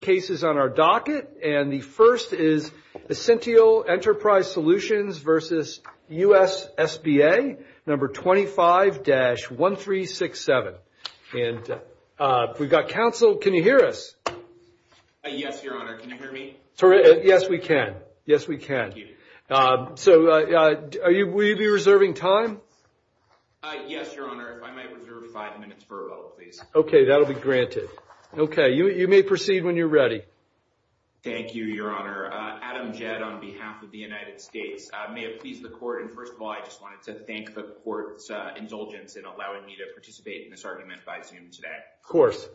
cases on our docket, and the first is Assintial Enterprise Solutions versus U.S. SBA, number 25-1367. And we've got counsel. Can you hear us? Yes, Your Honor. Can you hear me? Yes, we can. Yes, we can. So will you be reserving time? Yes, Your Honor. If I might reserve five minutes for a vote, please. Okay, that'll be granted. Okay, you may proceed when you're ready. Thank you, Your Honor. Adam Jed on behalf of the United States. May it please the court, and first of all, I just wanted to thank the court's indulgence in allowing me to participate in this argument by Zoom today. Of course.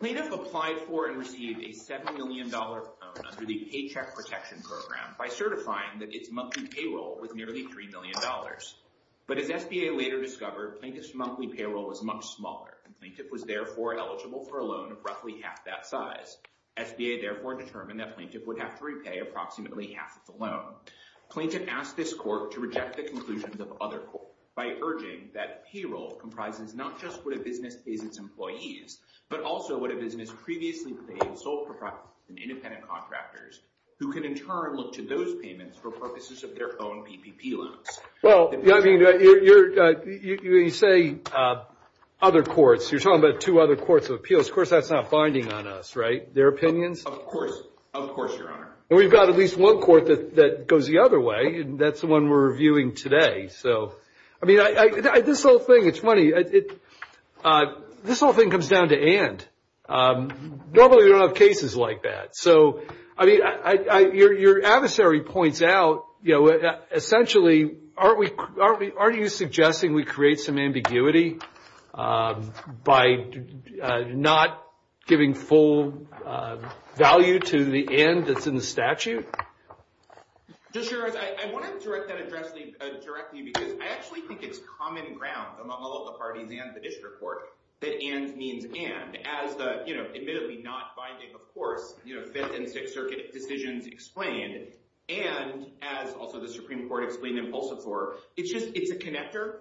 Plaintiff applied for and received a $7 million loan under the Paycheck Protection Program by certifying that its monthly payroll was nearly $3 million. But as SBA later discovered, Plaintiff's payroll was much smaller, and Plaintiff was therefore eligible for a loan of roughly half that size. SBA therefore determined that Plaintiff would have to repay approximately half of the loan. Plaintiff asked this court to reject the conclusions of other courts by urging that payroll comprises not just what a business pays its employees, but also what a business previously paid and sold for private and independent contractors, who can in turn look to those payments for purposes of their own PPP loans. Well, I mean, you say other courts. You're talking about two other courts of appeals. Of course, that's not binding on us, right? Their opinions? Of course. Of course, Your Honor. We've got at least one court that goes the other way, and that's the one we're reviewing today. So, I mean, this whole thing, it's funny. This whole thing comes down to and. Normally, we don't have cases like that. So, I mean, your adversary points out, essentially, aren't we, aren't you suggesting we create some ambiguity by not giving full value to the and that's in the statute? Just, Your Honor, I wanted to direct that address directly because I actually think it's common ground among all of the parties and the district court that and means and, as the, you know, admittedly not binding, of course, you know, Fifth and Sixth Circuit decisions explained, and as also the Supreme Court explained in Pulse Absorber, it's just, it's a connector.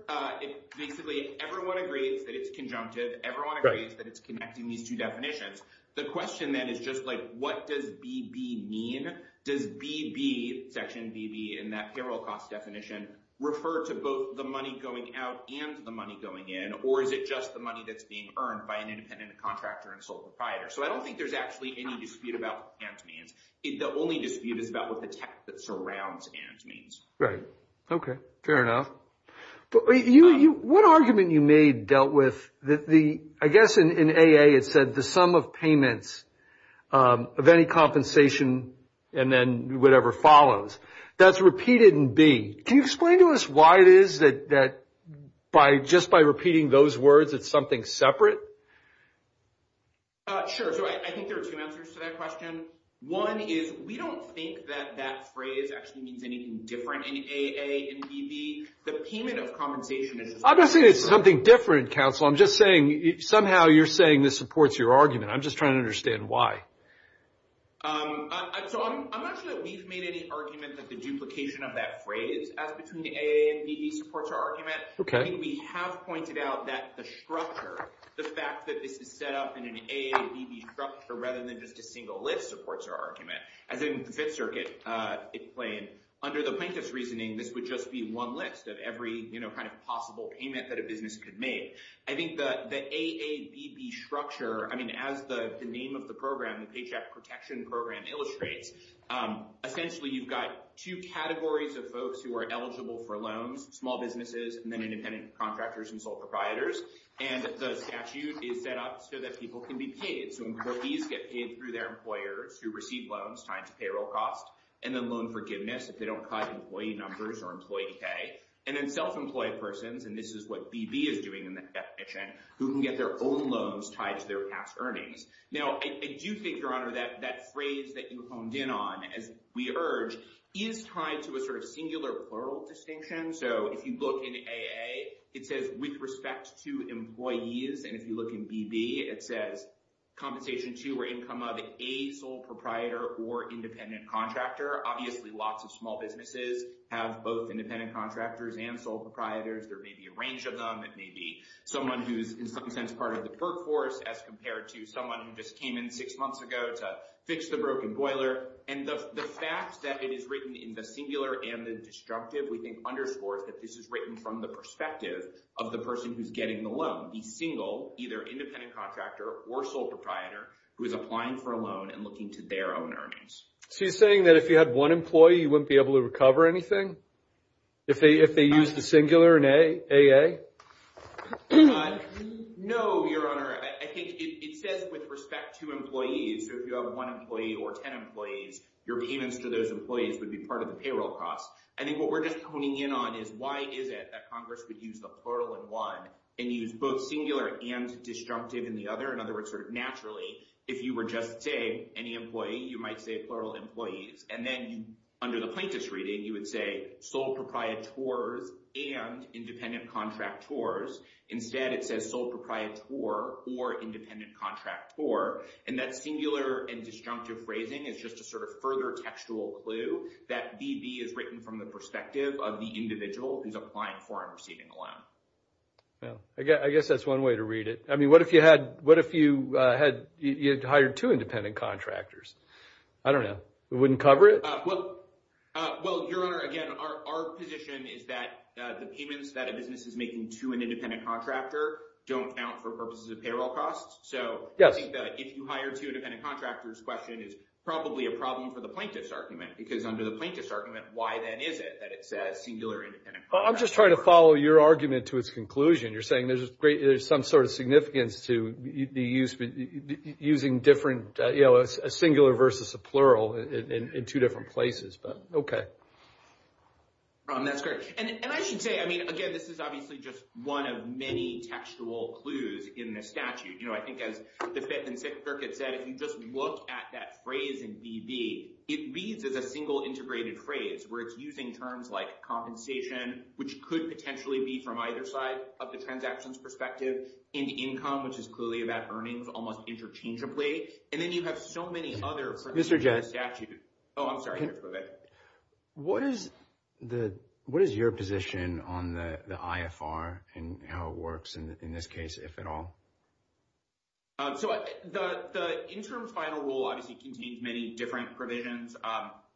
Basically, everyone agrees that it's conjunctive. Everyone agrees that it's connecting these two definitions. The question then is just like, what does BB mean? Does BB, section BB, in that payroll cost definition refer to both the money going out and the money going in, or is it just the money that's being earned by an independent contractor and sole proprietor? So, I don't think there's actually any dispute about what and means. The only dispute is about what the text that surrounds and means. Right. Okay. Fair enough. But you, what argument you made dealt with the, I guess, in AA, it said the sum of payments of any compensation and then whatever follows, that's repeated in B. Can you explain to us why it is that by just by repeating those words, it's something separate? Sure. So, I think there are two answers to that question. One is, we don't think that that phrase actually means anything different in AA and BB. The payment of compensation is- I'm not saying it's something different, counsel. I'm just saying, somehow you're saying this supports your argument. I'm just trying to understand why. So, I'm not sure that we've made any argument that the duplication of that phrase as between the AA and BB supports our argument. I think we have pointed out that the structure, the fact that this is set up in an AA and BB structure, rather than just a single list, supports our argument. As in the Fifth Circuit, it plain, under the plaintiff's reasoning, this would just be one list of every kind of possible payment that a business could make. I think that the AA, BB structure, I mean, as the name of the program, the Paycheck Protection Program illustrates, essentially you've got two categories of folks who are eligible for loans, small businesses, and then independent contractors and sole proprietors. And the statute is set up so that people can be paid. So, employees get paid through their employers who receive loans tied to payroll costs, and then loan forgiveness if they don't cut employee numbers or employee pay. And then self-employed persons, and this is what BB is doing in the definition, who can get their own loans tied to their past earnings. Now, I do think, Your Honor, that phrase that you honed in on, as we urge, is tied to a sort of singular plural distinction. So, if you look in AA, it says, with respect to employees. And if you look in BB, it says, compensation to or income of a sole proprietor or independent contractor. Obviously, lots of small businesses have both independent contractors and sole proprietors. There may be a range of them. It may be someone who's, in some sense, part of the perk force as compared to someone who just came in six months ago to fix the broken boiler. And the fact that it is written in the singular and the destructive, we think, underscores that this is written from the perspective of the person who's getting the loan, the single, either independent contractor or sole proprietor, who is applying for a loan and looking to their own earnings. So, you're saying that if you had one employee, you wouldn't be able to recover anything if they use the singular in AA? No, Your Honor. I think it says, with respect to employees. So, if you have one employee or 10 employees, your payments to those employees would be part of the payroll cost. I think what we're just honing in on is, why is it that Congress would use the plural in one and use both singular and destructive in the other? In other words, sort of naturally, if you were just saying any employee, you might say plural employees. And then under the plaintiff's reading, you would say sole proprietors and independent contractors. Instead, it says sole proprietor or independent contractor. And that singular and destructive phrasing is just a sort of further textual clue that BB is written from the perspective of the individual who's applying for and receiving a loan. Yeah. I guess that's one way to read it. I mean, what if you had hired two independent contractors? I don't know. It wouldn't cover it? Well, Your Honor, again, our position is that the payments that a business is making to an employee, I think that if you hired two independent contractors, the question is probably a problem for the plaintiff's argument. Because under the plaintiff's argument, why then is it that it says singular and independent contractors? I'm just trying to follow your argument to its conclusion. You're saying there's some sort of significance to using a singular versus a plural in two different places. But, okay. That's great. And I should say, I mean, again, this is obviously just one of many textual clues in the statute. I think as the Fifth and Sixth Circuit said, if you just look at that phrase in BB, it reads as a single integrated phrase where it's using terms like compensation, which could potentially be from either side of the transaction's perspective, and income, which is clearly about earnings almost interchangeably. And then you have so many other phrases in the statute. Oh, I'm sorry. What is your position on the IFR and how it works, in this case, if at all? So the interim's final rule obviously contains many different provisions.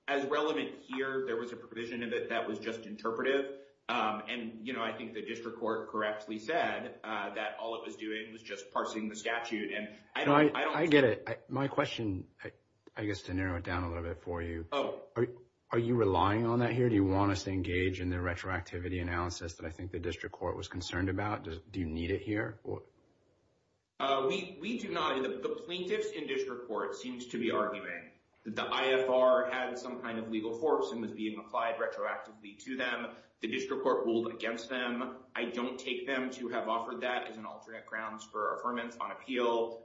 As relevant here, there was a provision of it that was just interpretive. And I think the district court correctly said that all it was doing was just parsing the statute. I get it. My question, I guess to narrow it down a little bit for you, are you relying on that here? Do you want us to engage in the retroactivity analysis that I think district court was concerned about? Do you need it here? We do not. The plaintiffs in district court seems to be arguing that the IFR had some kind of legal force and was being applied retroactively to them. The district court ruled against them. I don't take them to have offered that as an alternate grounds for affirmance on appeal.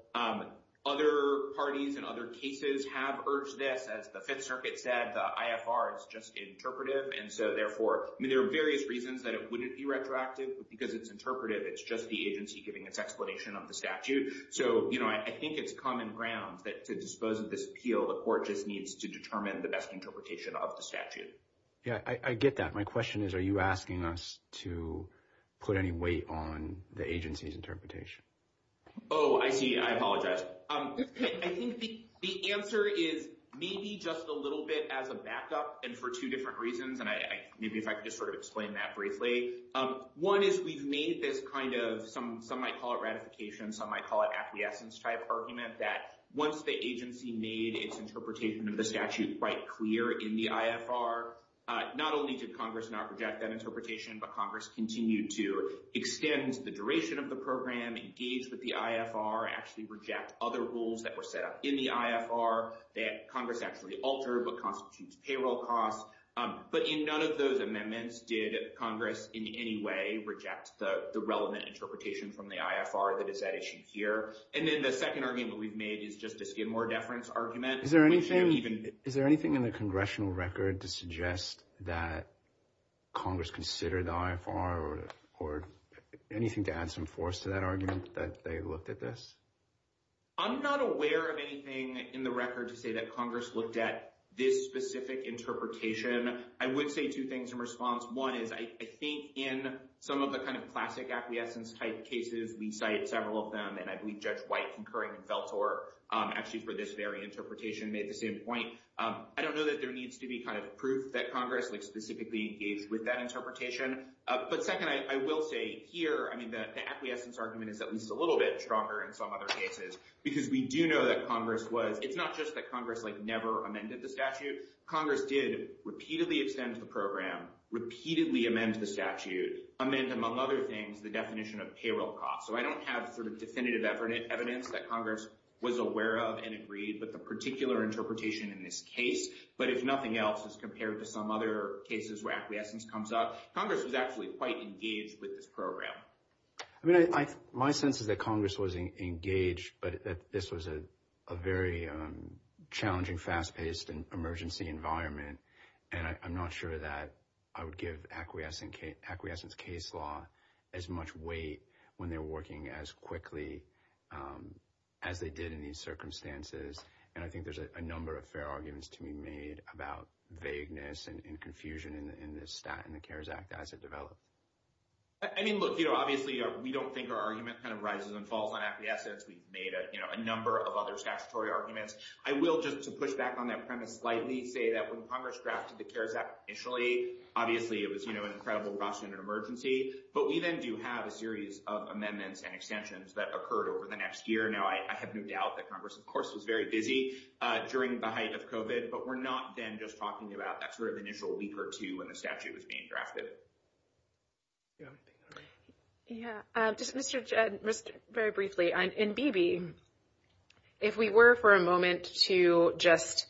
Other parties and other cases have urged this. As the Fifth Circuit said, the IFR is just interpretive. And so therefore, I mean, there are various reasons that it wouldn't be retroactive. But because it's interpretive, it's just the agency giving its explanation of the statute. So I think it's common ground that to dispose of this appeal, the court just needs to determine the best interpretation of the statute. Yeah, I get that. My question is, are you asking us to put any weight on the agency's interpretation? Oh, I see. I apologize. I think the answer is maybe just a bit as a backup and for two different reasons. And maybe if I could just sort of explain that briefly. One is we've made this kind of, some might call it ratification, some might call it acquiescence-type argument, that once the agency made its interpretation of the statute quite clear in the IFR, not only did Congress not reject that interpretation, but Congress continued to extend the duration of the program, engage with the IFR, actually reject other rules that were in the IFR that Congress actually altered what constitutes payroll costs. But in none of those amendments did Congress in any way reject the relevant interpretation from the IFR that is at issue here. And then the second argument we've made is just a Skidmore deference argument. Is there anything in the congressional record to suggest that Congress considered the IFR or anything to add some force to that argument that they looked at this? I'm not aware of anything in the record to say that Congress looked at this specific interpretation. I would say two things in response. One is I think in some of the kind of classic acquiescence-type cases, we cited several of them, and I believe Judge White concurring with Veltor actually for this very interpretation made the same point. I don't know that there needs to be kind of proof that Congress like specifically engaged with that interpretation. But second, I will say here, I mean, the acquiescence argument is at least a because we do know that Congress was, it's not just that Congress like never amended the statute, Congress did repeatedly extend the program, repeatedly amend the statute, amend, among other things, the definition of payroll costs. So I don't have sort of definitive evidence that Congress was aware of and agreed with the particular interpretation in this case. But if nothing else, as compared to some other cases where acquiescence comes up, Congress was actually quite engaged with this program. I mean, my sense is that Congress was engaged, but that this was a very challenging, fast-paced and emergency environment. And I'm not sure that I would give acquiescence case law as much weight when they're working as quickly as they did in these circumstances. And I think there's a number of fair arguments to be made about vagueness and confusion in this statute and the CARES Act as it we don't think our argument kind of rises and falls on acquiescence. We've made a number of other statutory arguments. I will just to push back on that premise slightly say that when Congress drafted the CARES Act initially, obviously it was an incredible rush and an emergency, but we then do have a series of amendments and extensions that occurred over the next year. Now, I have no doubt that Congress, of course, was very busy during the height of COVID, but we're not then just talking about that sort of initial week or two when the statute was being drafted. Yeah. Just very briefly, in BB, if we were for a moment to just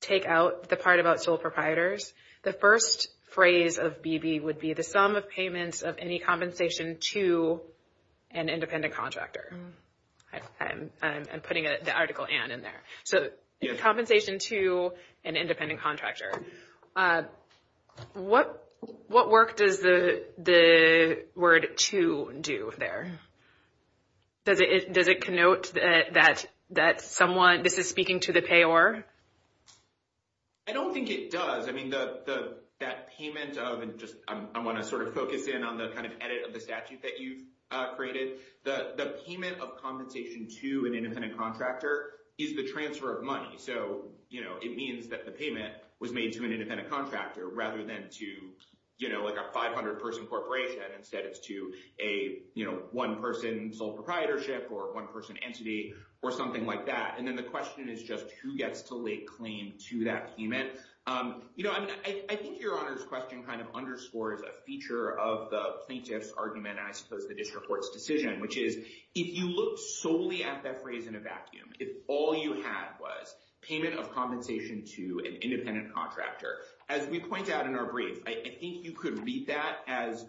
take out the part about sole proprietors, the first phrase of BB would be the sum of payments of any compensation to an independent contractor. I'm putting the article and in there. So compensation to an independent contractor. What work does the word to do there? Does it connote that someone, this is speaking to the payor? I don't think it does. I mean, that payment of, and I want to sort of focus in on the kind of edit of the statute that you've created. The payment of compensation to an independent contractor is the transfer of money. So it means that the payment was made to an independent contractor rather than to like a 500 person corporation. Instead it's to a one person sole proprietorship or one person entity or something like that. And then the question is just who gets to lay claim to that payment. I think your honor's question kind of underscores a feature of the plaintiff's argument and I suppose the district court's decision, which is if you look solely at that phrase in a vacuum, if all you had was payment of compensation to an independent contractor, as we point out in our brief, I think you could read that as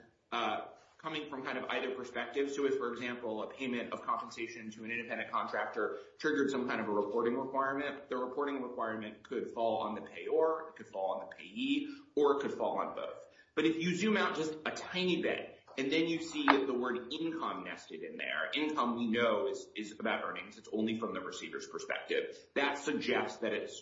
coming from kind of either perspective. So if, for example, a payment of compensation to an independent contractor triggered some kind of a reporting requirement, the reporting requirement could fall on the payor, could fall on the payee, or it could fall on both. But if you zoom out just a tiny bit and then you see the word income nested in there, income we know is about earnings. It's only from the receiver's perspective. That suggests that it's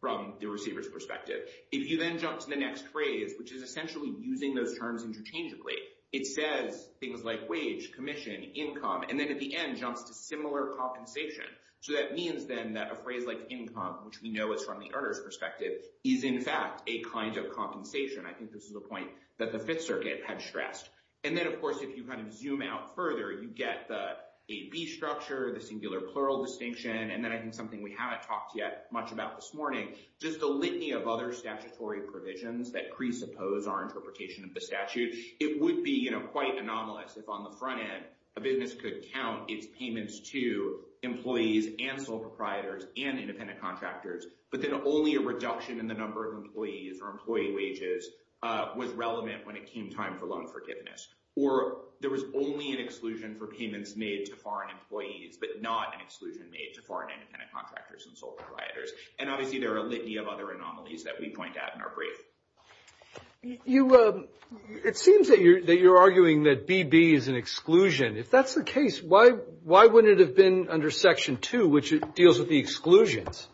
from the receiver's perspective. If you then jump to the next phrase, which is essentially using those terms interchangeably, it says things like wage, commission, income, and then at the end jumps to similar compensation. So that means then that a phrase like income, which we know is from the earner's perspective, is in fact a kind of compensation. I think this is the point that the Fifth Circuit had stressed. And then of course, if you kind of zoom out further, you get the AB structure, the singular plural distinction, and then I think something we haven't talked yet much about this morning, just a litany of other statutory provisions that presuppose our interpretation of the statute. It would be, you know, quite anomalous if on the front end a business could count its payments to employees and sole proprietors and independent contractors, but then only a reduction in the number of employees or employee wages was relevant when it came time for loan forgiveness. Or there was only an exclusion for payments made to foreign employees, but not an exclusion made to foreign independent contractors and sole proprietors. And obviously there are a litany of other anomalies that we point out in our brief. You, it seems that you're arguing that BB is an exclusion. If that's the case, why wouldn't it have been under Section 2, which deals with the exclusions?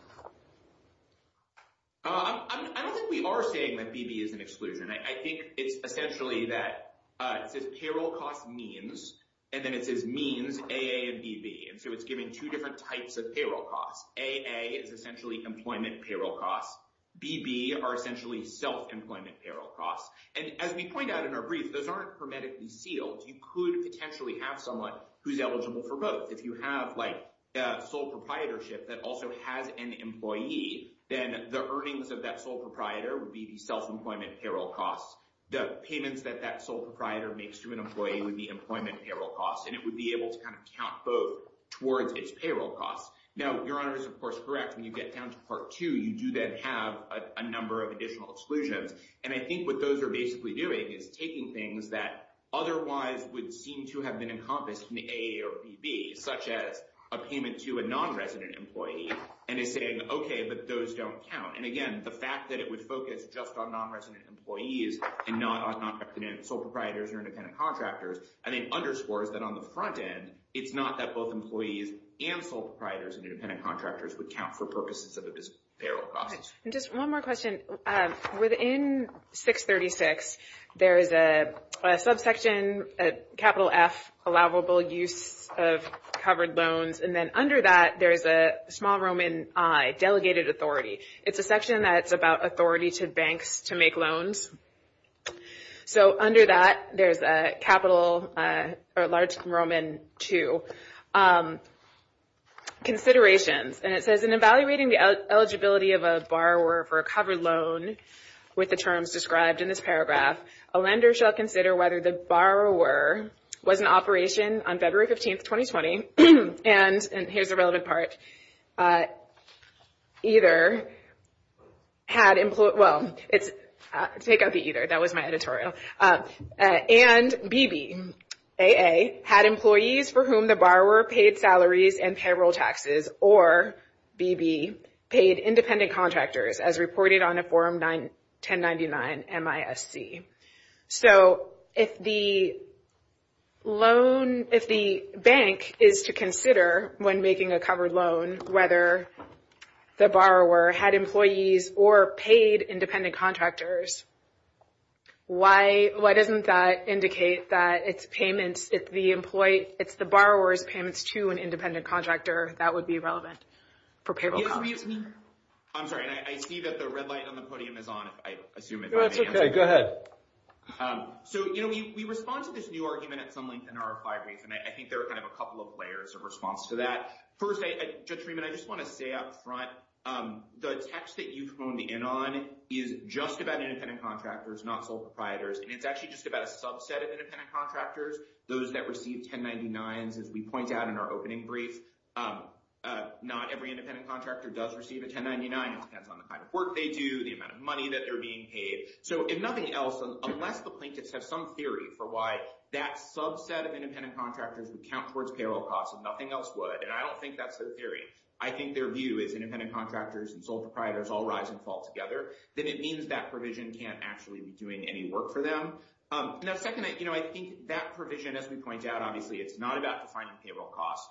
I don't think we are saying that BB is an exclusion. I think it's essentially that it says payroll cost means, and then it says means AA and BB. And so it's giving two different types of payroll costs. AA is essentially employment payroll costs. BB are essentially self-employment payroll costs. And as we point out in our brief, those aren't hermetically sealed. You could potentially have someone who's eligible for both. If you have like a sole proprietorship that also has an employee, then the earnings of that sole proprietor would be the self-employment payroll costs. The payments that that sole proprietor makes to an employee would be employment payroll costs. And it would be able to kind of count both towards its payroll costs. Now, Your Honor is, of course, correct. When you get down to Part 2, you do then have a number of additional exclusions. And I think what those are basically doing is taking things that otherwise would seem to have been encompassed in the AA or BB, such as a payment to a non-resident employee, and is saying, okay, but those don't count. And again, the fact that it would focus just on non-resident employees and not on sole proprietors or independent contractors, I think underscores that on the front end, it's not that both employees and sole proprietors and independent contractors would count for purposes of the payroll costs. Just one more question. Within 636, there is a subsection, a capital F, allowable use of covered loans. And then under that, there is a small Roman I, delegated authority. It's a section that's about authority to banks to make loans. So under that, there's a capital, a large Roman II, considerations. And it says, in evaluating the eligibility of a borrower for a covered loan with the terms described in this paragraph, a lender shall consider whether the borrower was in operation on February 15th, 2020, and, and here's the relevant part, either had employed, well, it's, take out the either. That was my editorial. And BB, AA, had employees for whom the borrower paid salaries and payroll taxes, or BB paid independent contractors as reported on a form 1099-MISC. So if the loan, if the bank is to consider when making a covered loan, whether the borrower had employees or paid independent contractors, why, why doesn't that indicate that it's payments, if the employee, it's the borrower's payments to an independent contractor, that would be relevant for payroll costs. I'm sorry, I see that the red light on the podium is on, if I assume it. That's okay, go ahead. So, you know, we, we respond to this new argument at some length in our five weeks, and I think there are kind of a couple of layers of response to that. First, Judge Freeman, I just want to say up front, the text that you phoned in on is just about independent contractors, not sole proprietors. And it's actually just about a subset of independent contractors, those that receive 1099s. As we point out in our opening brief, not every independent contractor does receive a 1099. It depends on the kind of work they do, the amount of money that they're being paid. So if nothing else, unless the plaintiffs have some theory for why that subset of independent contractors would count towards payroll costs and nothing else would, and I don't think that's their theory, I think their view is independent contractors and sole proprietors all rise and fall together, then it means that provision can't actually be doing any work for them. Now, second, you know, I think that provision, as we point out, obviously, it's not about defining payroll costs.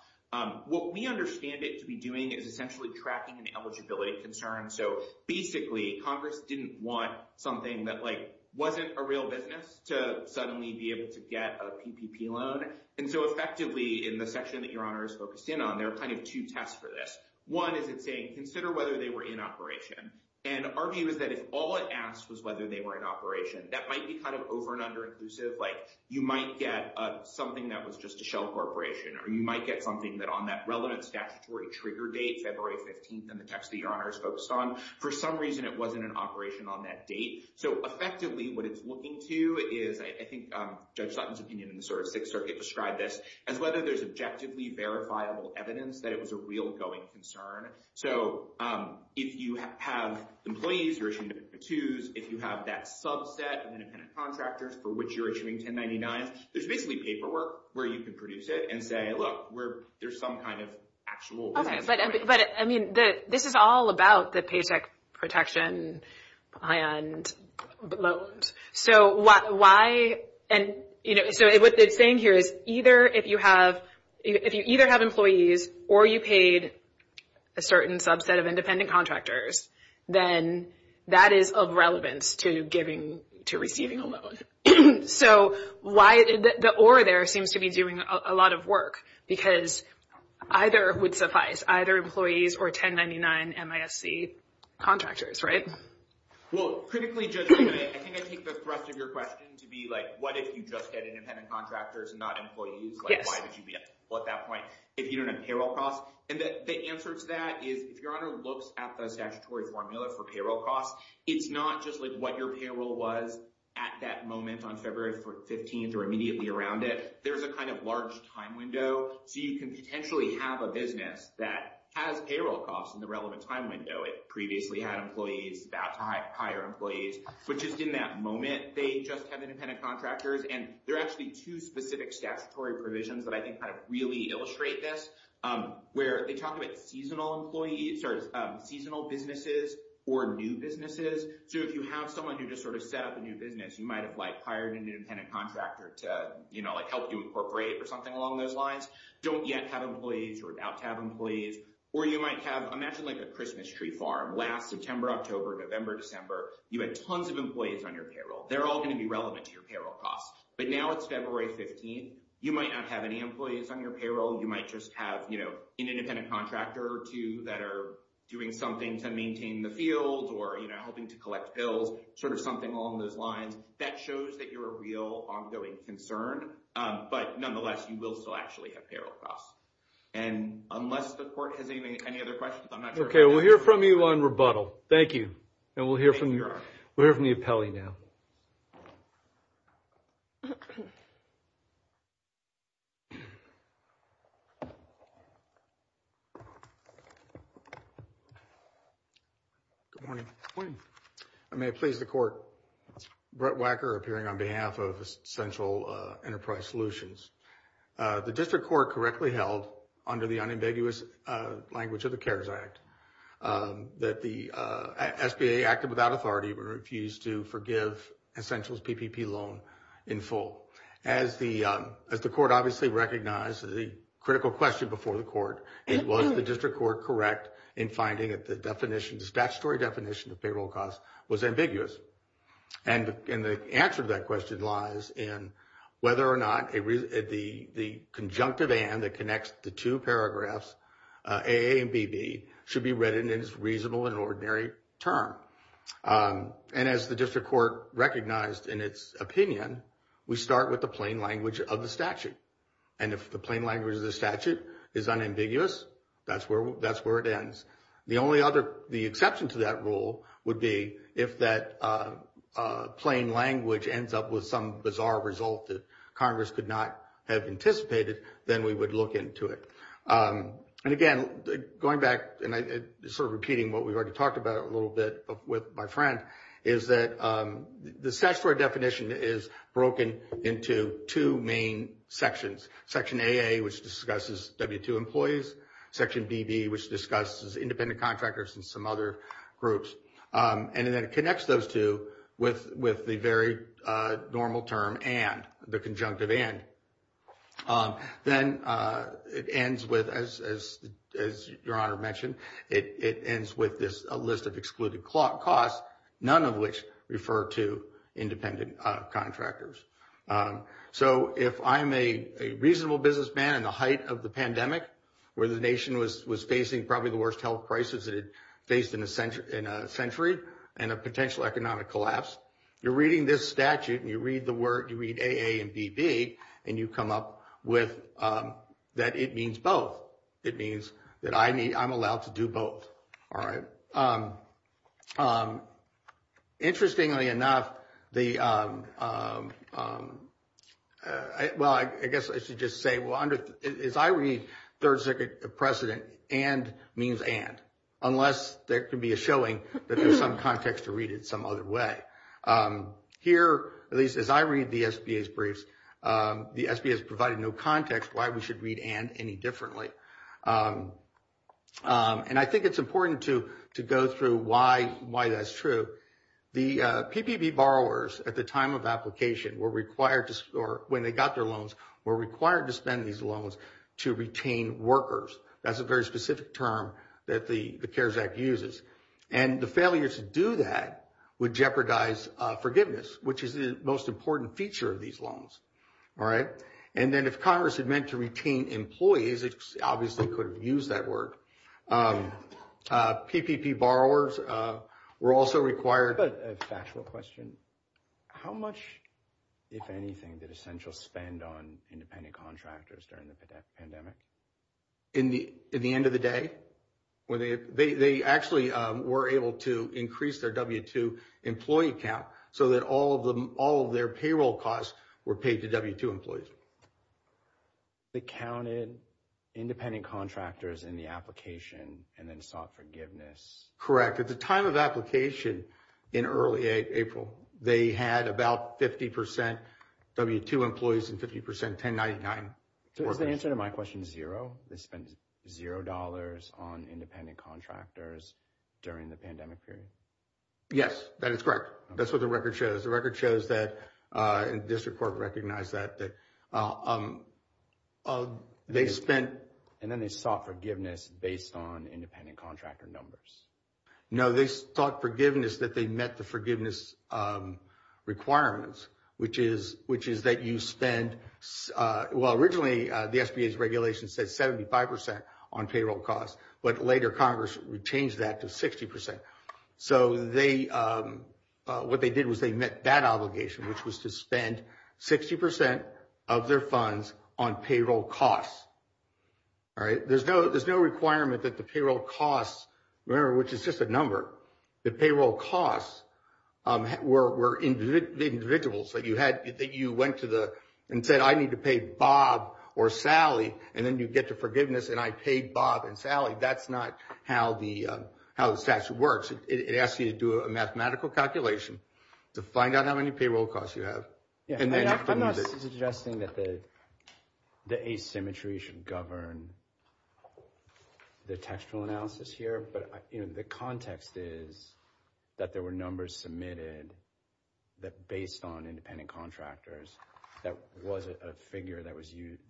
What we understand it to be doing is essentially tracking an eligibility concern. So basically, Congress didn't want something that, like, wasn't a real business to suddenly be able to get a PPP loan. And so effectively, in the section that Your Honor is focused in on, there are kind of two tests for this. One is it saying, consider whether they were in operation. And our view is that if all it asked was whether they were in operation, that might be kind of over and under inclusive. Like, you might get something that was just a shell corporation, or you might get something that on that relevant statutory trigger date, February 15th, in the text that Your Honor is focused on, for some reason, it wasn't in operation on that date. So effectively, what it's looking to is, I think Judge Sutton's opinion in the sort of Sixth Circuit described this as whether there's objectively verifiable evidence that it was a real going concern. So if you have employees, if you have that subset of independent contractors for which you're issuing 1099s, there's basically paperwork where you can produce it and say, look, we're, there's some kind of actual... Okay, but I mean, this is all about the paycheck protection and loans. So why, and, you know, so what they're saying here is either if you have, if you either have employees or you paid a certain subset of independent contractors, then that is of relevance to giving, to receiving a loan. So why, the or there seems to be doing a lot of work, because either would suffice, either employees or 1099 MISC contractors, right? Well, critically, Judge Sutton, I think I take the rest of your question to be like, what if you just had independent contractors and not employees? Like, why would you be at that point if you don't have payroll costs? And the answer to that is, if your honor looks at the statutory formula for payroll costs, it's not just like what your payroll was at that moment on February 15th or immediately around it. There's a kind of large time window. So you can potentially have a business that has payroll costs in the relevant time window. It previously had employees that time, hire employees, which is in that moment, they just have independent contractors. And there are actually two specific statutory provisions that I think kind of really illustrate this, where they talk about seasonal employees or seasonal businesses or new businesses. So if you have someone who just sort of set up a new business, you might have like hired an independent contractor to, you know, like help you incorporate or something along those lines. Don't yet have employees or about to have employees, or you might have, imagine like a Christmas tree farm last September, October, November, December, you had tons of employees on your payroll. They're all going to be relevant to your payroll costs. But now it's February 15th. You might not have any employees on your payroll. You might just have, you know, an independent contractor or two that are doing something to maintain the field or, you know, helping to collect bills, sort of something along those lines that shows that you're a real ongoing concern. But nonetheless, you will still actually have payroll costs. And unless the court has any other questions, I'm not sure. We'll hear from you on rebuttal. Thank you. And we'll hear from the appellee now. Good morning. I may please the court. Brett Wacker appearing on behalf of Central Enterprise Solutions. The district court correctly held under the unambiguous language of the CARES Act that the SBA acted without authority but refused to forgive Essentials PPP loan in full. As the court obviously recognized the critical question before the court, it was the district court correct in finding that the definition, the statutory definition of payroll cost was ambiguous. And the answer to that question lies in whether or the conjunctive and that connects the two paragraphs AA and BB should be read in its reasonable and ordinary term. And as the district court recognized in its opinion, we start with the plain language of the statute. And if the plain language of the statute is unambiguous, that's where it ends. The exception to that rule would be if that plain language ends up with some bizarre result that Congress could not have anticipated, then we would look into it. And again, going back and sort of repeating what we've already talked about a little bit with my friend, is that the statutory definition is broken into two main sections. Section AA, which discusses W-2 employees. Section BB, which discusses independent contractors and some other groups. And then it connects those two with the very normal term and the conjunctive and. Then it ends with, as your honor mentioned, it ends with this list of excluded costs, none of which refer to independent contractors. So if I'm a reasonable businessman in the height of the pandemic, where the nation was facing probably the worst health crisis that it faced in a century and a potential economic collapse, you're reading this statute and you read the word, you read AA and BB, and you come up with that it means both. It means that I'm allowed to do both. All right. Interestingly enough, I guess I should just say, as I read Third Circuit precedent, and means and, unless there can be a showing that there's some context to read it some other way. Here, at least as I read the SBA's briefs, the SBA has provided no context why we should read and any differently. And I think it's important to go through why that's true. The PPB borrowers at the time of application were required to, or when they got their loans, were required to spend these loans to retain workers. That's a very specific term that the CARES Act uses. And the failure to do that would jeopardize forgiveness, which is the most important feature of All right. And then if Congress had meant to retain employees, it obviously could have used that word. PPP borrowers were also required- I've got a factual question. How much, if anything, did essential spend on independent contractors during the pandemic? In the end of the day, they actually were able to increase their W-2 employee count so that all of their payroll costs were paid to W-2 employees. They counted independent contractors in the application and then sought forgiveness? Correct. At the time of application, in early April, they had about 50 percent W-2 employees and 50 percent 1099 workers. So is the answer to my question zero? They spent zero dollars on independent contractors during the pandemic period? Yes, that is correct. That's what the record shows. The record shows that, and the district court recognized that, that they spent- And then they sought forgiveness based on independent contractor numbers? No, they sought forgiveness that they met the forgiveness requirements, which is that you spend, well, originally the SBA's regulation said 75 percent on payroll costs, but later Congress changed that to 60 percent. So what they did was they met that obligation, which was to spend 60 percent of their funds on payroll costs. There's no requirement that the payroll costs, remember, which is just a number, the payroll costs were individuals that you went to and said, I need to pay Bob or Sally, and then you get to forgiveness and I paid Bob and Sally. That's not how the statute works. It asks you to do a mathematical calculation to find out how many payroll costs you have. I'm not suggesting that the asymmetry should govern the textual analysis here, but the context is that there were numbers submitted that based on independent contractors, that was a figure that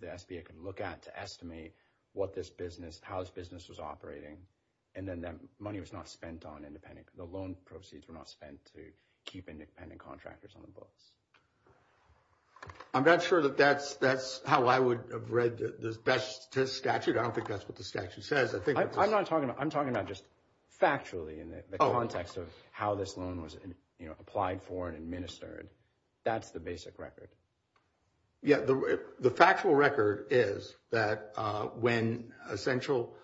the SBA could look at to estimate what this business, how this business was operating, and then that money was not spent on independent, the loan proceeds were not spent to keep independent contractors on the books. I'm not sure that that's how I would have read the best statute. I don't think that's what the statute says. I'm not talking, I'm talking about just factually in the context of how this loan was applied for and administered. That's the basic record. Yeah, the factual record is that when Essential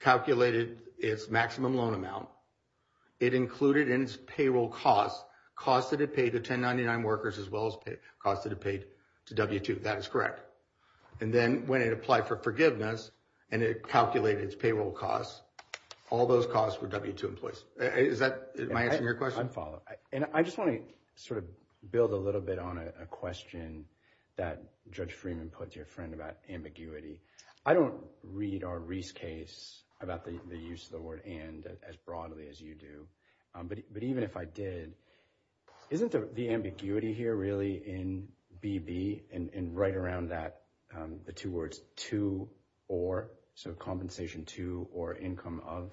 calculated its maximum loan amount, it included in its payroll costs, costs that it paid to 1099 workers as well as costs that it paid to W-2. That is correct. And then when it applied for forgiveness and it calculated its payroll costs, all those costs were W-2 employees. Am I answering your question? And I just want to sort of build a little bit on a question that Judge Freeman put to your friend about ambiguity. I don't read our Reese case about the use of the word and as broadly as you do, but even if I did, isn't the ambiguity here really in BB and right around that, the two words to or, so compensation to or income of,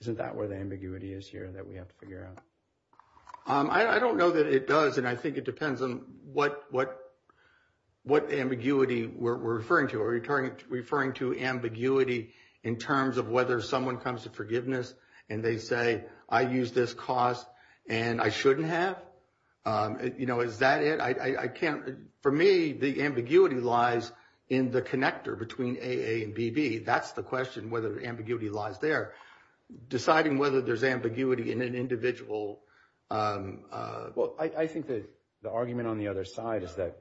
isn't that where the ambiguity is here that we have to figure out? I don't know that it does. And I think it depends on what ambiguity we're referring to or referring to ambiguity in terms of whether someone comes to forgiveness and they say, I use this cost and I shouldn't have. Is that it? I can't, for me, the ambiguity lies in the connector between AA and BB. That's the question, whether the ambiguity lies there. Deciding whether there's ambiguity in an individual. Well, I think that the argument on the other side is that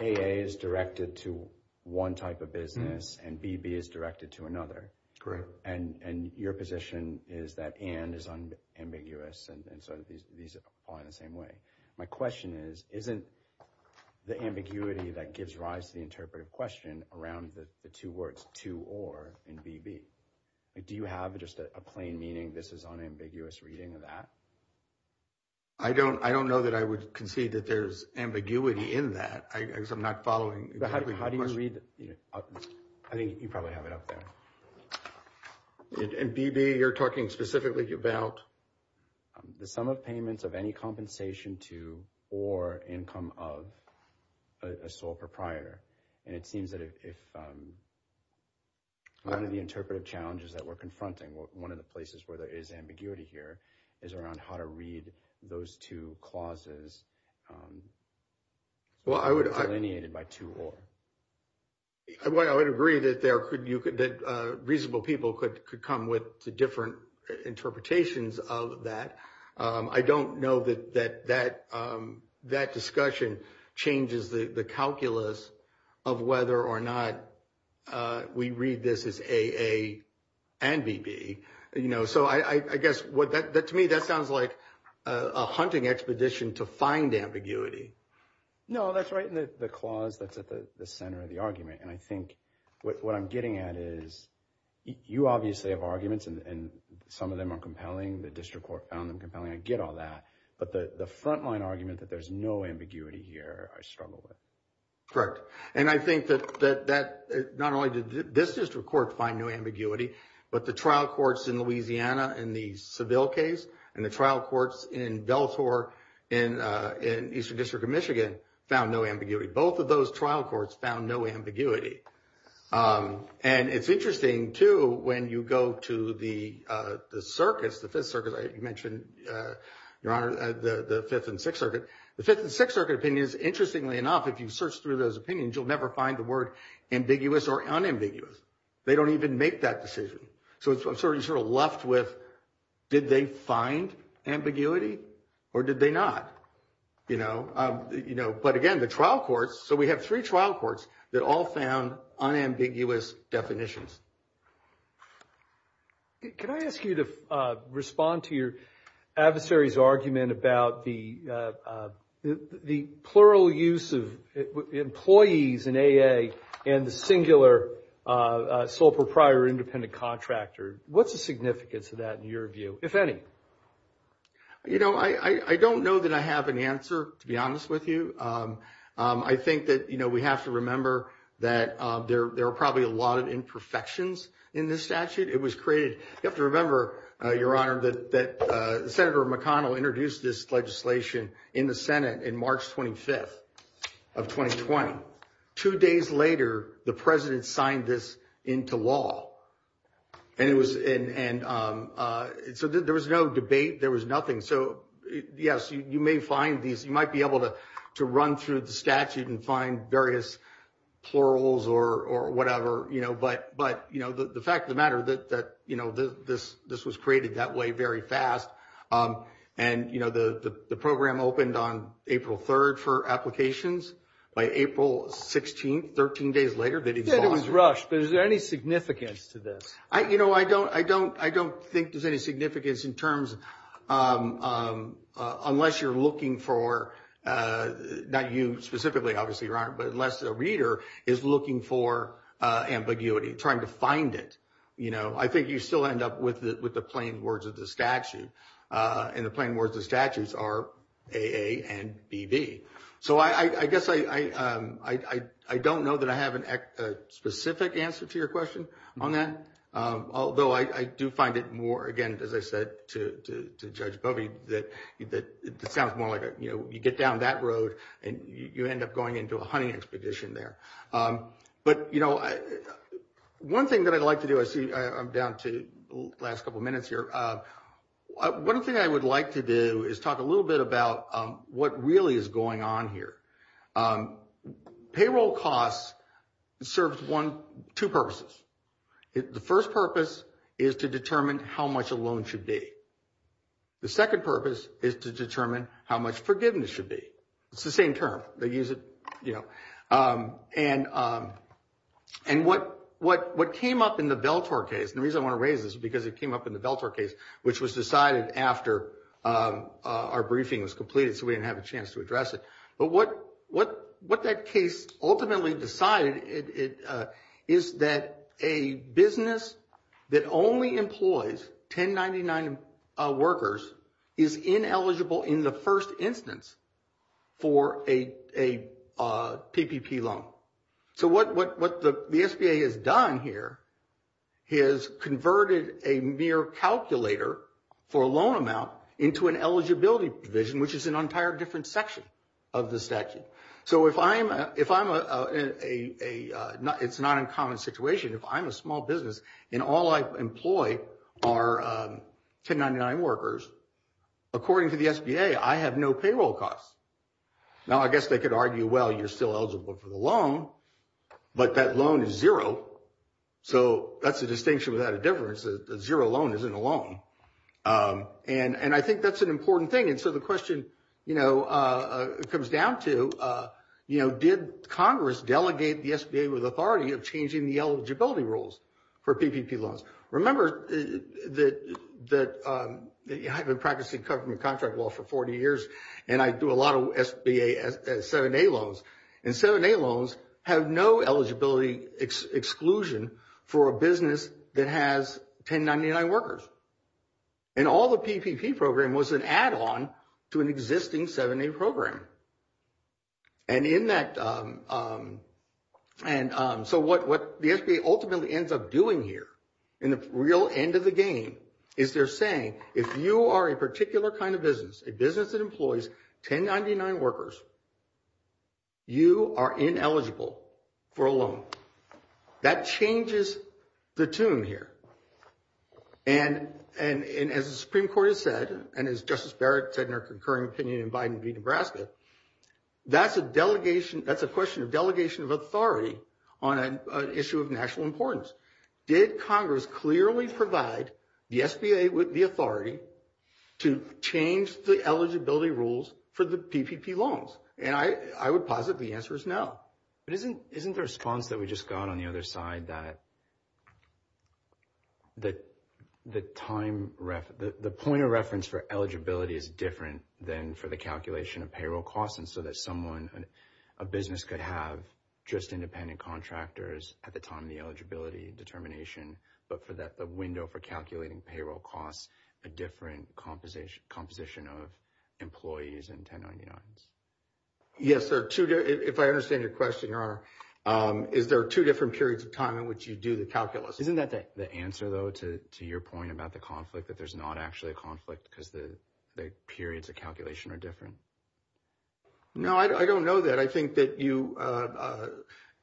AA is directed to one type of business and BB is directed to another. Correct. And your position is that and is unambiguous. And so these apply in the same way. My question is, isn't the ambiguity that gives rise to the interpretive question around the two words to or in BB? Do you have just a plain meaning this is unambiguous reading of that? I don't know that I would concede that there's ambiguity in that. I guess I'm not following. How do you read? I think you probably have it up there. In BB, you're talking specifically about? The sum of payments of any compensation to or income of a sole proprietor. And it seems that if one of the interpretive challenges that we're confronting, one of the places where there is ambiguity here is around how to read those two clauses delineated by to or. Well, I would agree that reasonable people could come with different interpretations of that. I don't know that that discussion changes the calculus of whether or not we read this as AA and BB. So I guess to me, that sounds like a hunting expedition to find ambiguity. No, that's right. And the clause that's at the center of the argument. And I think what I'm getting at is you obviously have arguments and some of them are compelling. The district court found them compelling. I get all that. But the frontline argument that there's no ambiguity here, I struggle with. Correct. And I think that not only did this district court find no ambiguity, but the trial courts in Louisiana in the Seville case and the trial courts in Del Tor in Eastern District of Michigan found no ambiguity. Both of those trial courts found no ambiguity. And it's interesting, too, when you go to the circuits, the Fifth Circuit, you mentioned, Your Honor, the Fifth and Sixth Circuit. The Fifth and Sixth Circuit opinions, interestingly enough, if you search through those opinions, you'll never find the word ambiguous or unambiguous. They don't even make that decision. So I'm sort of left with, did they find ambiguity or did they not? But again, the trial courts, so we have three trial unambiguous definitions. Can I ask you to respond to your adversary's argument about the plural use of employees in AA and the singular sole proprietor independent contractor? What's the significance of that in your view, if any? You know, I don't know that I have an answer, to be honest with you. I think that we have to remember that there are probably a lot of imperfections in this statute. It was created, you have to remember, Your Honor, that Senator McConnell introduced this legislation in the Senate in March 25th of 2020. Two days later, the President signed this into law. And so there was no debate. There was nothing. So yes, you may find these, you might be able to run through the statute and find various plurals or whatever. But the fact of the matter, that this was created that way very fast. And the program opened on April 3rd for applications. By April 16th, 13 days later, that it was lost. Yeah, it was rushed. But is there any significance to this? You know, I don't think there's any significance in terms, unless you're looking for, not you specifically, obviously, Your Honor, but unless the reader is looking for ambiguity, trying to find it. I think you still end up with the plain words of the statute. And the plain words of the statutes are AA and BB. So I guess I don't know that I answer to your question on that. Although I do find it more, again, as I said to Judge Bovey, that it sounds more like you get down that road and you end up going into a hunting expedition there. But one thing that I'd like to do, I see I'm down to the last couple of minutes here. One thing I would like to do is talk a little bit about what really is going on here. Payroll costs serves two purposes. The first purpose is to determine how much a loan should be. The second purpose is to determine how much forgiveness should be. It's the same term, they use it, you know. And what came up in the Veltor case, the reason I want to raise this is because it came up in the Veltor case, which was decided after our briefing was completed, so we didn't have a chance to address it. But what that case ultimately decided is that a business that only employs 1099 workers is ineligible in the first instance for a PPP loan. So what the SBA has done here is converted a mere calculator for a loan amount into an eligibility provision, which is an entire different section of the statute. So if I'm, it's not a common situation, if I'm a small business and all I employ are 1099 workers, according to the SBA, I have no payroll costs. Now I guess they could argue, well, you're still eligible for the loan, but that loan is zero. So that's a distinction without difference. The zero loan isn't a loan. And I think that's an important thing. And so the question comes down to, did Congress delegate the SBA with authority of changing the eligibility rules for PPP loans? Remember that I've been practicing government contract law for 40 years, and I do a lot of SBA 7A loans. And 7A loans have no eligibility exclusion for a business that has 1099 workers. And all the PPP program was an add-on to an existing 7A program. And in that, and so what the SBA ultimately ends up doing here in the real end of the game is they're saying, if you are a particular kind of business, a business that employs 1099 workers, you are ineligible for a loan. That changes the tune here. And as the Supreme Court has said, and as Justice Barrett said in her concurring opinion in Biden v. Nebraska, that's a delegation, that's a question of delegation of authority on an issue of national importance. Did Congress clearly provide the SBA with the authority to change the eligibility rules for the PPP loans? And I would posit the answer is no. But isn't the response that we just got on the other side that the point of reference for eligibility is different than for the calculation of payroll costs? And so that someone, a business could have just independent contractors at the time of the eligibility determination, but for that, the window for calculating payroll costs, a different composition of employees in 1099s. Yes. If I understand your question, Your Honor, is there two different periods of time in which you do the calculus? Isn't that the answer, though, to your point about the conflict, that there's not actually a conflict because the periods of calculation are different? No, I don't know that.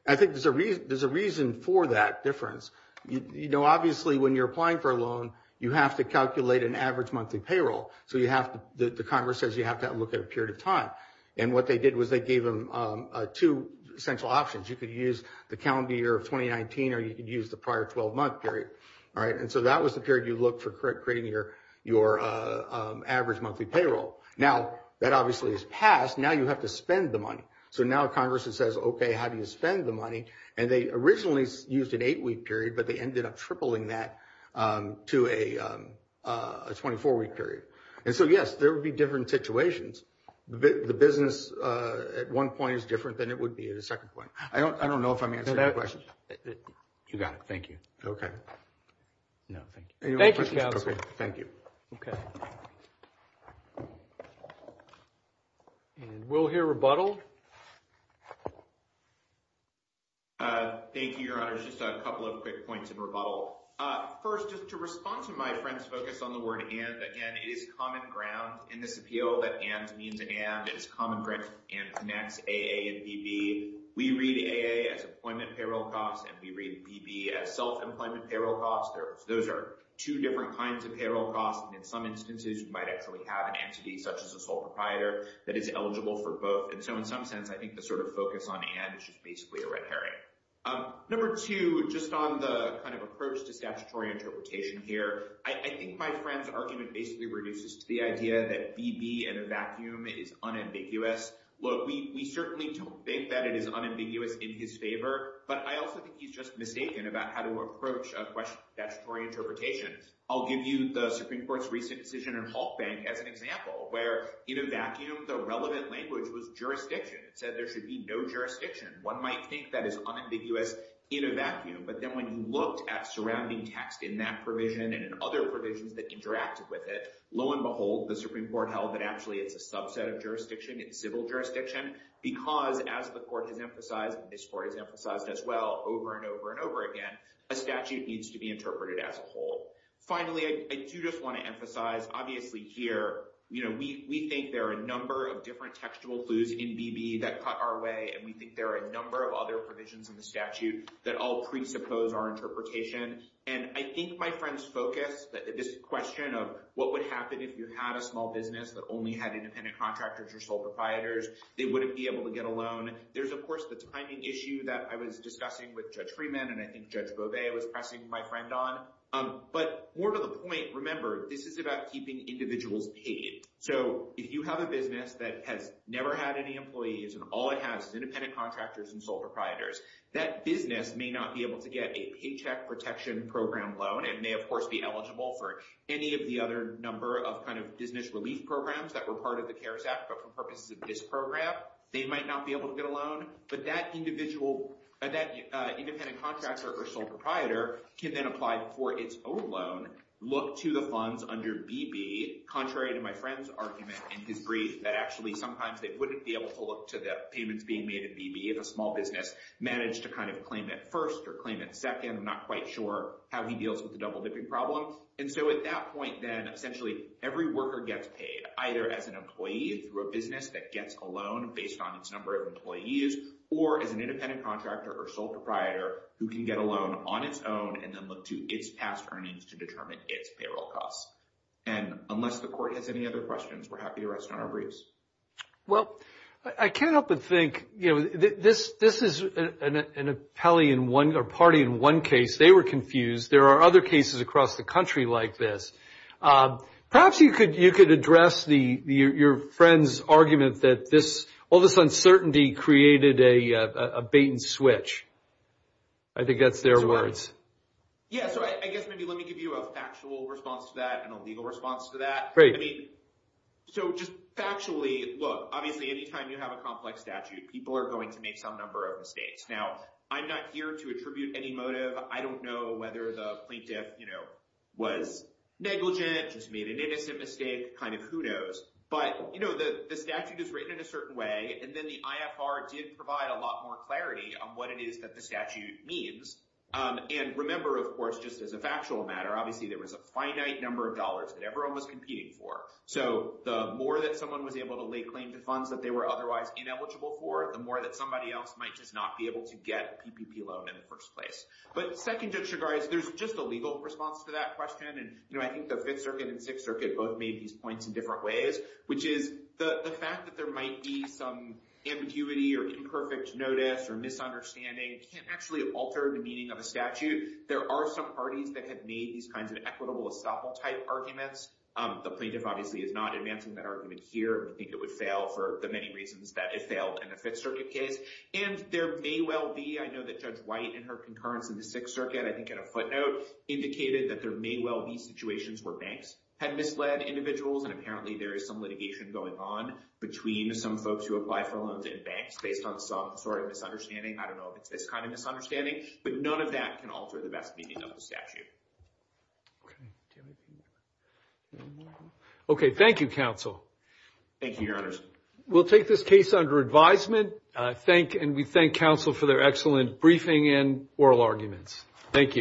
I think there's a reason for that difference. You know, obviously, when you're applying for a loan, you have to calculate an average monthly payroll. So you have to, the Congress says you have to look at a period of time. And what they did was they gave them two central options. You could use the calendar year of 2019 or you could use the prior 12 month period. All right. And so that was the period you look for creating your average monthly payroll. Now, that obviously is passed. Now you have to spend the money. So now Congress says, OK, how do you spend the money? And they originally used an eight week period, but they ended up tripling that to a 24 week period. And so, yes, there would be different situations. The business at one point is different than it would be at a second point. I don't know if I'm answering that question. You got it. Thank you. OK. No, thank you. Thank you, Counselor. Thank you. OK. And we'll hear rebuttal. Thank you, Your Honor. Just a couple of quick points of rebuttal. First, just to respond to my friends focus on the word and again, it is common ground in this appeal that and means and is common grant and connects AA and BB. We read AA as employment payroll costs and we read BB as self-employment payroll costs. Those are two different kinds of payroll costs. And in some instances, you might actually have an entity such as a sole proprietor that is eligible for both. And so in some sense, I think the sort of focus on and it's just basically a red herring. Number two, just on the kind of approach to statutory interpretation here, I think my friend's argument basically reduces to the idea that BB in a vacuum is unambiguous. Well, we certainly don't think that it is unambiguous in his favor, but I also think he's just mistaken about how to approach a question of statutory interpretation. I'll give you the Supreme Court's recent decision in Halkbank as an example where in a vacuum, the relevant language was jurisdiction. It said there should be no jurisdiction. One might think that is unambiguous in a vacuum, but then when you looked at surrounding text in that provision and in other provisions that interacted with it, lo and behold, the Supreme Court held that actually it's a subset of jurisdiction in civil jurisdiction because as the court has emphasized and this court has emphasized as well over and over and over again, a statute needs to be interpreted as a whole. Finally, I do just want to emphasize obviously here, we think there are a number of textual clues in BB that cut our way and we think there are a number of other provisions in the statute that all presuppose our interpretation. And I think my friend's focus, this question of what would happen if you had a small business that only had independent contractors or sole providers, they wouldn't be able to get a loan. There's of course the timing issue that I was discussing with Judge Freeman and I think Judge Beauvais was pressing my friend on. But more to the point, remember, this is about keeping individuals paid. So if you have a never had any employees and all it has is independent contractors and sole proprietors, that business may not be able to get a paycheck protection program loan and may of course be eligible for any of the other number of kind of business relief programs that were part of the CARES Act but for purposes of this program, they might not be able to get a loan. But that independent contractor or sole proprietor can then apply for its own loan, look to the funds under BB, contrary to my friend's argument in his brief that actually sometimes they wouldn't be able to look to the payments being made in BB if a small business managed to kind of claim it first or claim it second. I'm not quite sure how he deals with the double-dipping problem. And so at that point then, essentially every worker gets paid either as an employee through a business that gets a loan based on its number of employees or as an independent contractor or sole proprietor who can get a loan on its own and then look to its past earnings to determine its payroll costs. And unless the court has any other questions, we're happy to rest on our briefs. Well, I can't help but think, you know, this is an appellee in one or party in one case. They were confused. There are other cases across the country like this. Perhaps you could address your friend's argument that all this uncertainty created a bait and switch. I think that's their words. Yeah, so I guess maybe let me give you a factual response to that and a legal response to that. Great. I mean, so just factually, look, obviously anytime you have a complex statute, people are going to make some number of mistakes. Now, I'm not here to attribute any motive. I don't know whether the plaintiff, you know, was negligent, just made an innocent mistake, kind of, who knows. But, you know, the statute is written in a certain way. And then the IFR did provide a lot more clarity on what it is that the statute means. And remember, of course, just as a factual matter, obviously, there was a finite number of dollars that everyone was competing for. So the more that someone was able to lay claim to funds that they were otherwise ineligible for, the more that somebody else might just not be able to get a PPP loan in the first place. But second, Judge Shugart, there's just a legal response to that question. And, you know, I think the Fifth Circuit and Sixth Circuit both made these points in different ways, which is the fact that there might be some ambiguity or imperfect notice or misunderstanding can actually alter the meaning of a statute. There are some parties that have made these kinds of equitable estoppel-type arguments. The plaintiff, obviously, is not advancing that argument here. We think it would fail for the many reasons that it failed in the Fifth Circuit case. And there may well be, I know that Judge White in her concurrence in the Sixth Circuit, I think at a footnote, indicated that there may well be situations where banks had misled individuals and apparently there is some litigation going on between some folks who apply for loans in banks based on some sort of misunderstanding. I don't know if it's this kind of misunderstanding, but none of that can alter the best meaning of the statute. Okay, thank you, counsel. Thank you, your honors. We'll take this case under advisement. And we thank counsel for their excellent briefing and oral arguments. Thank you.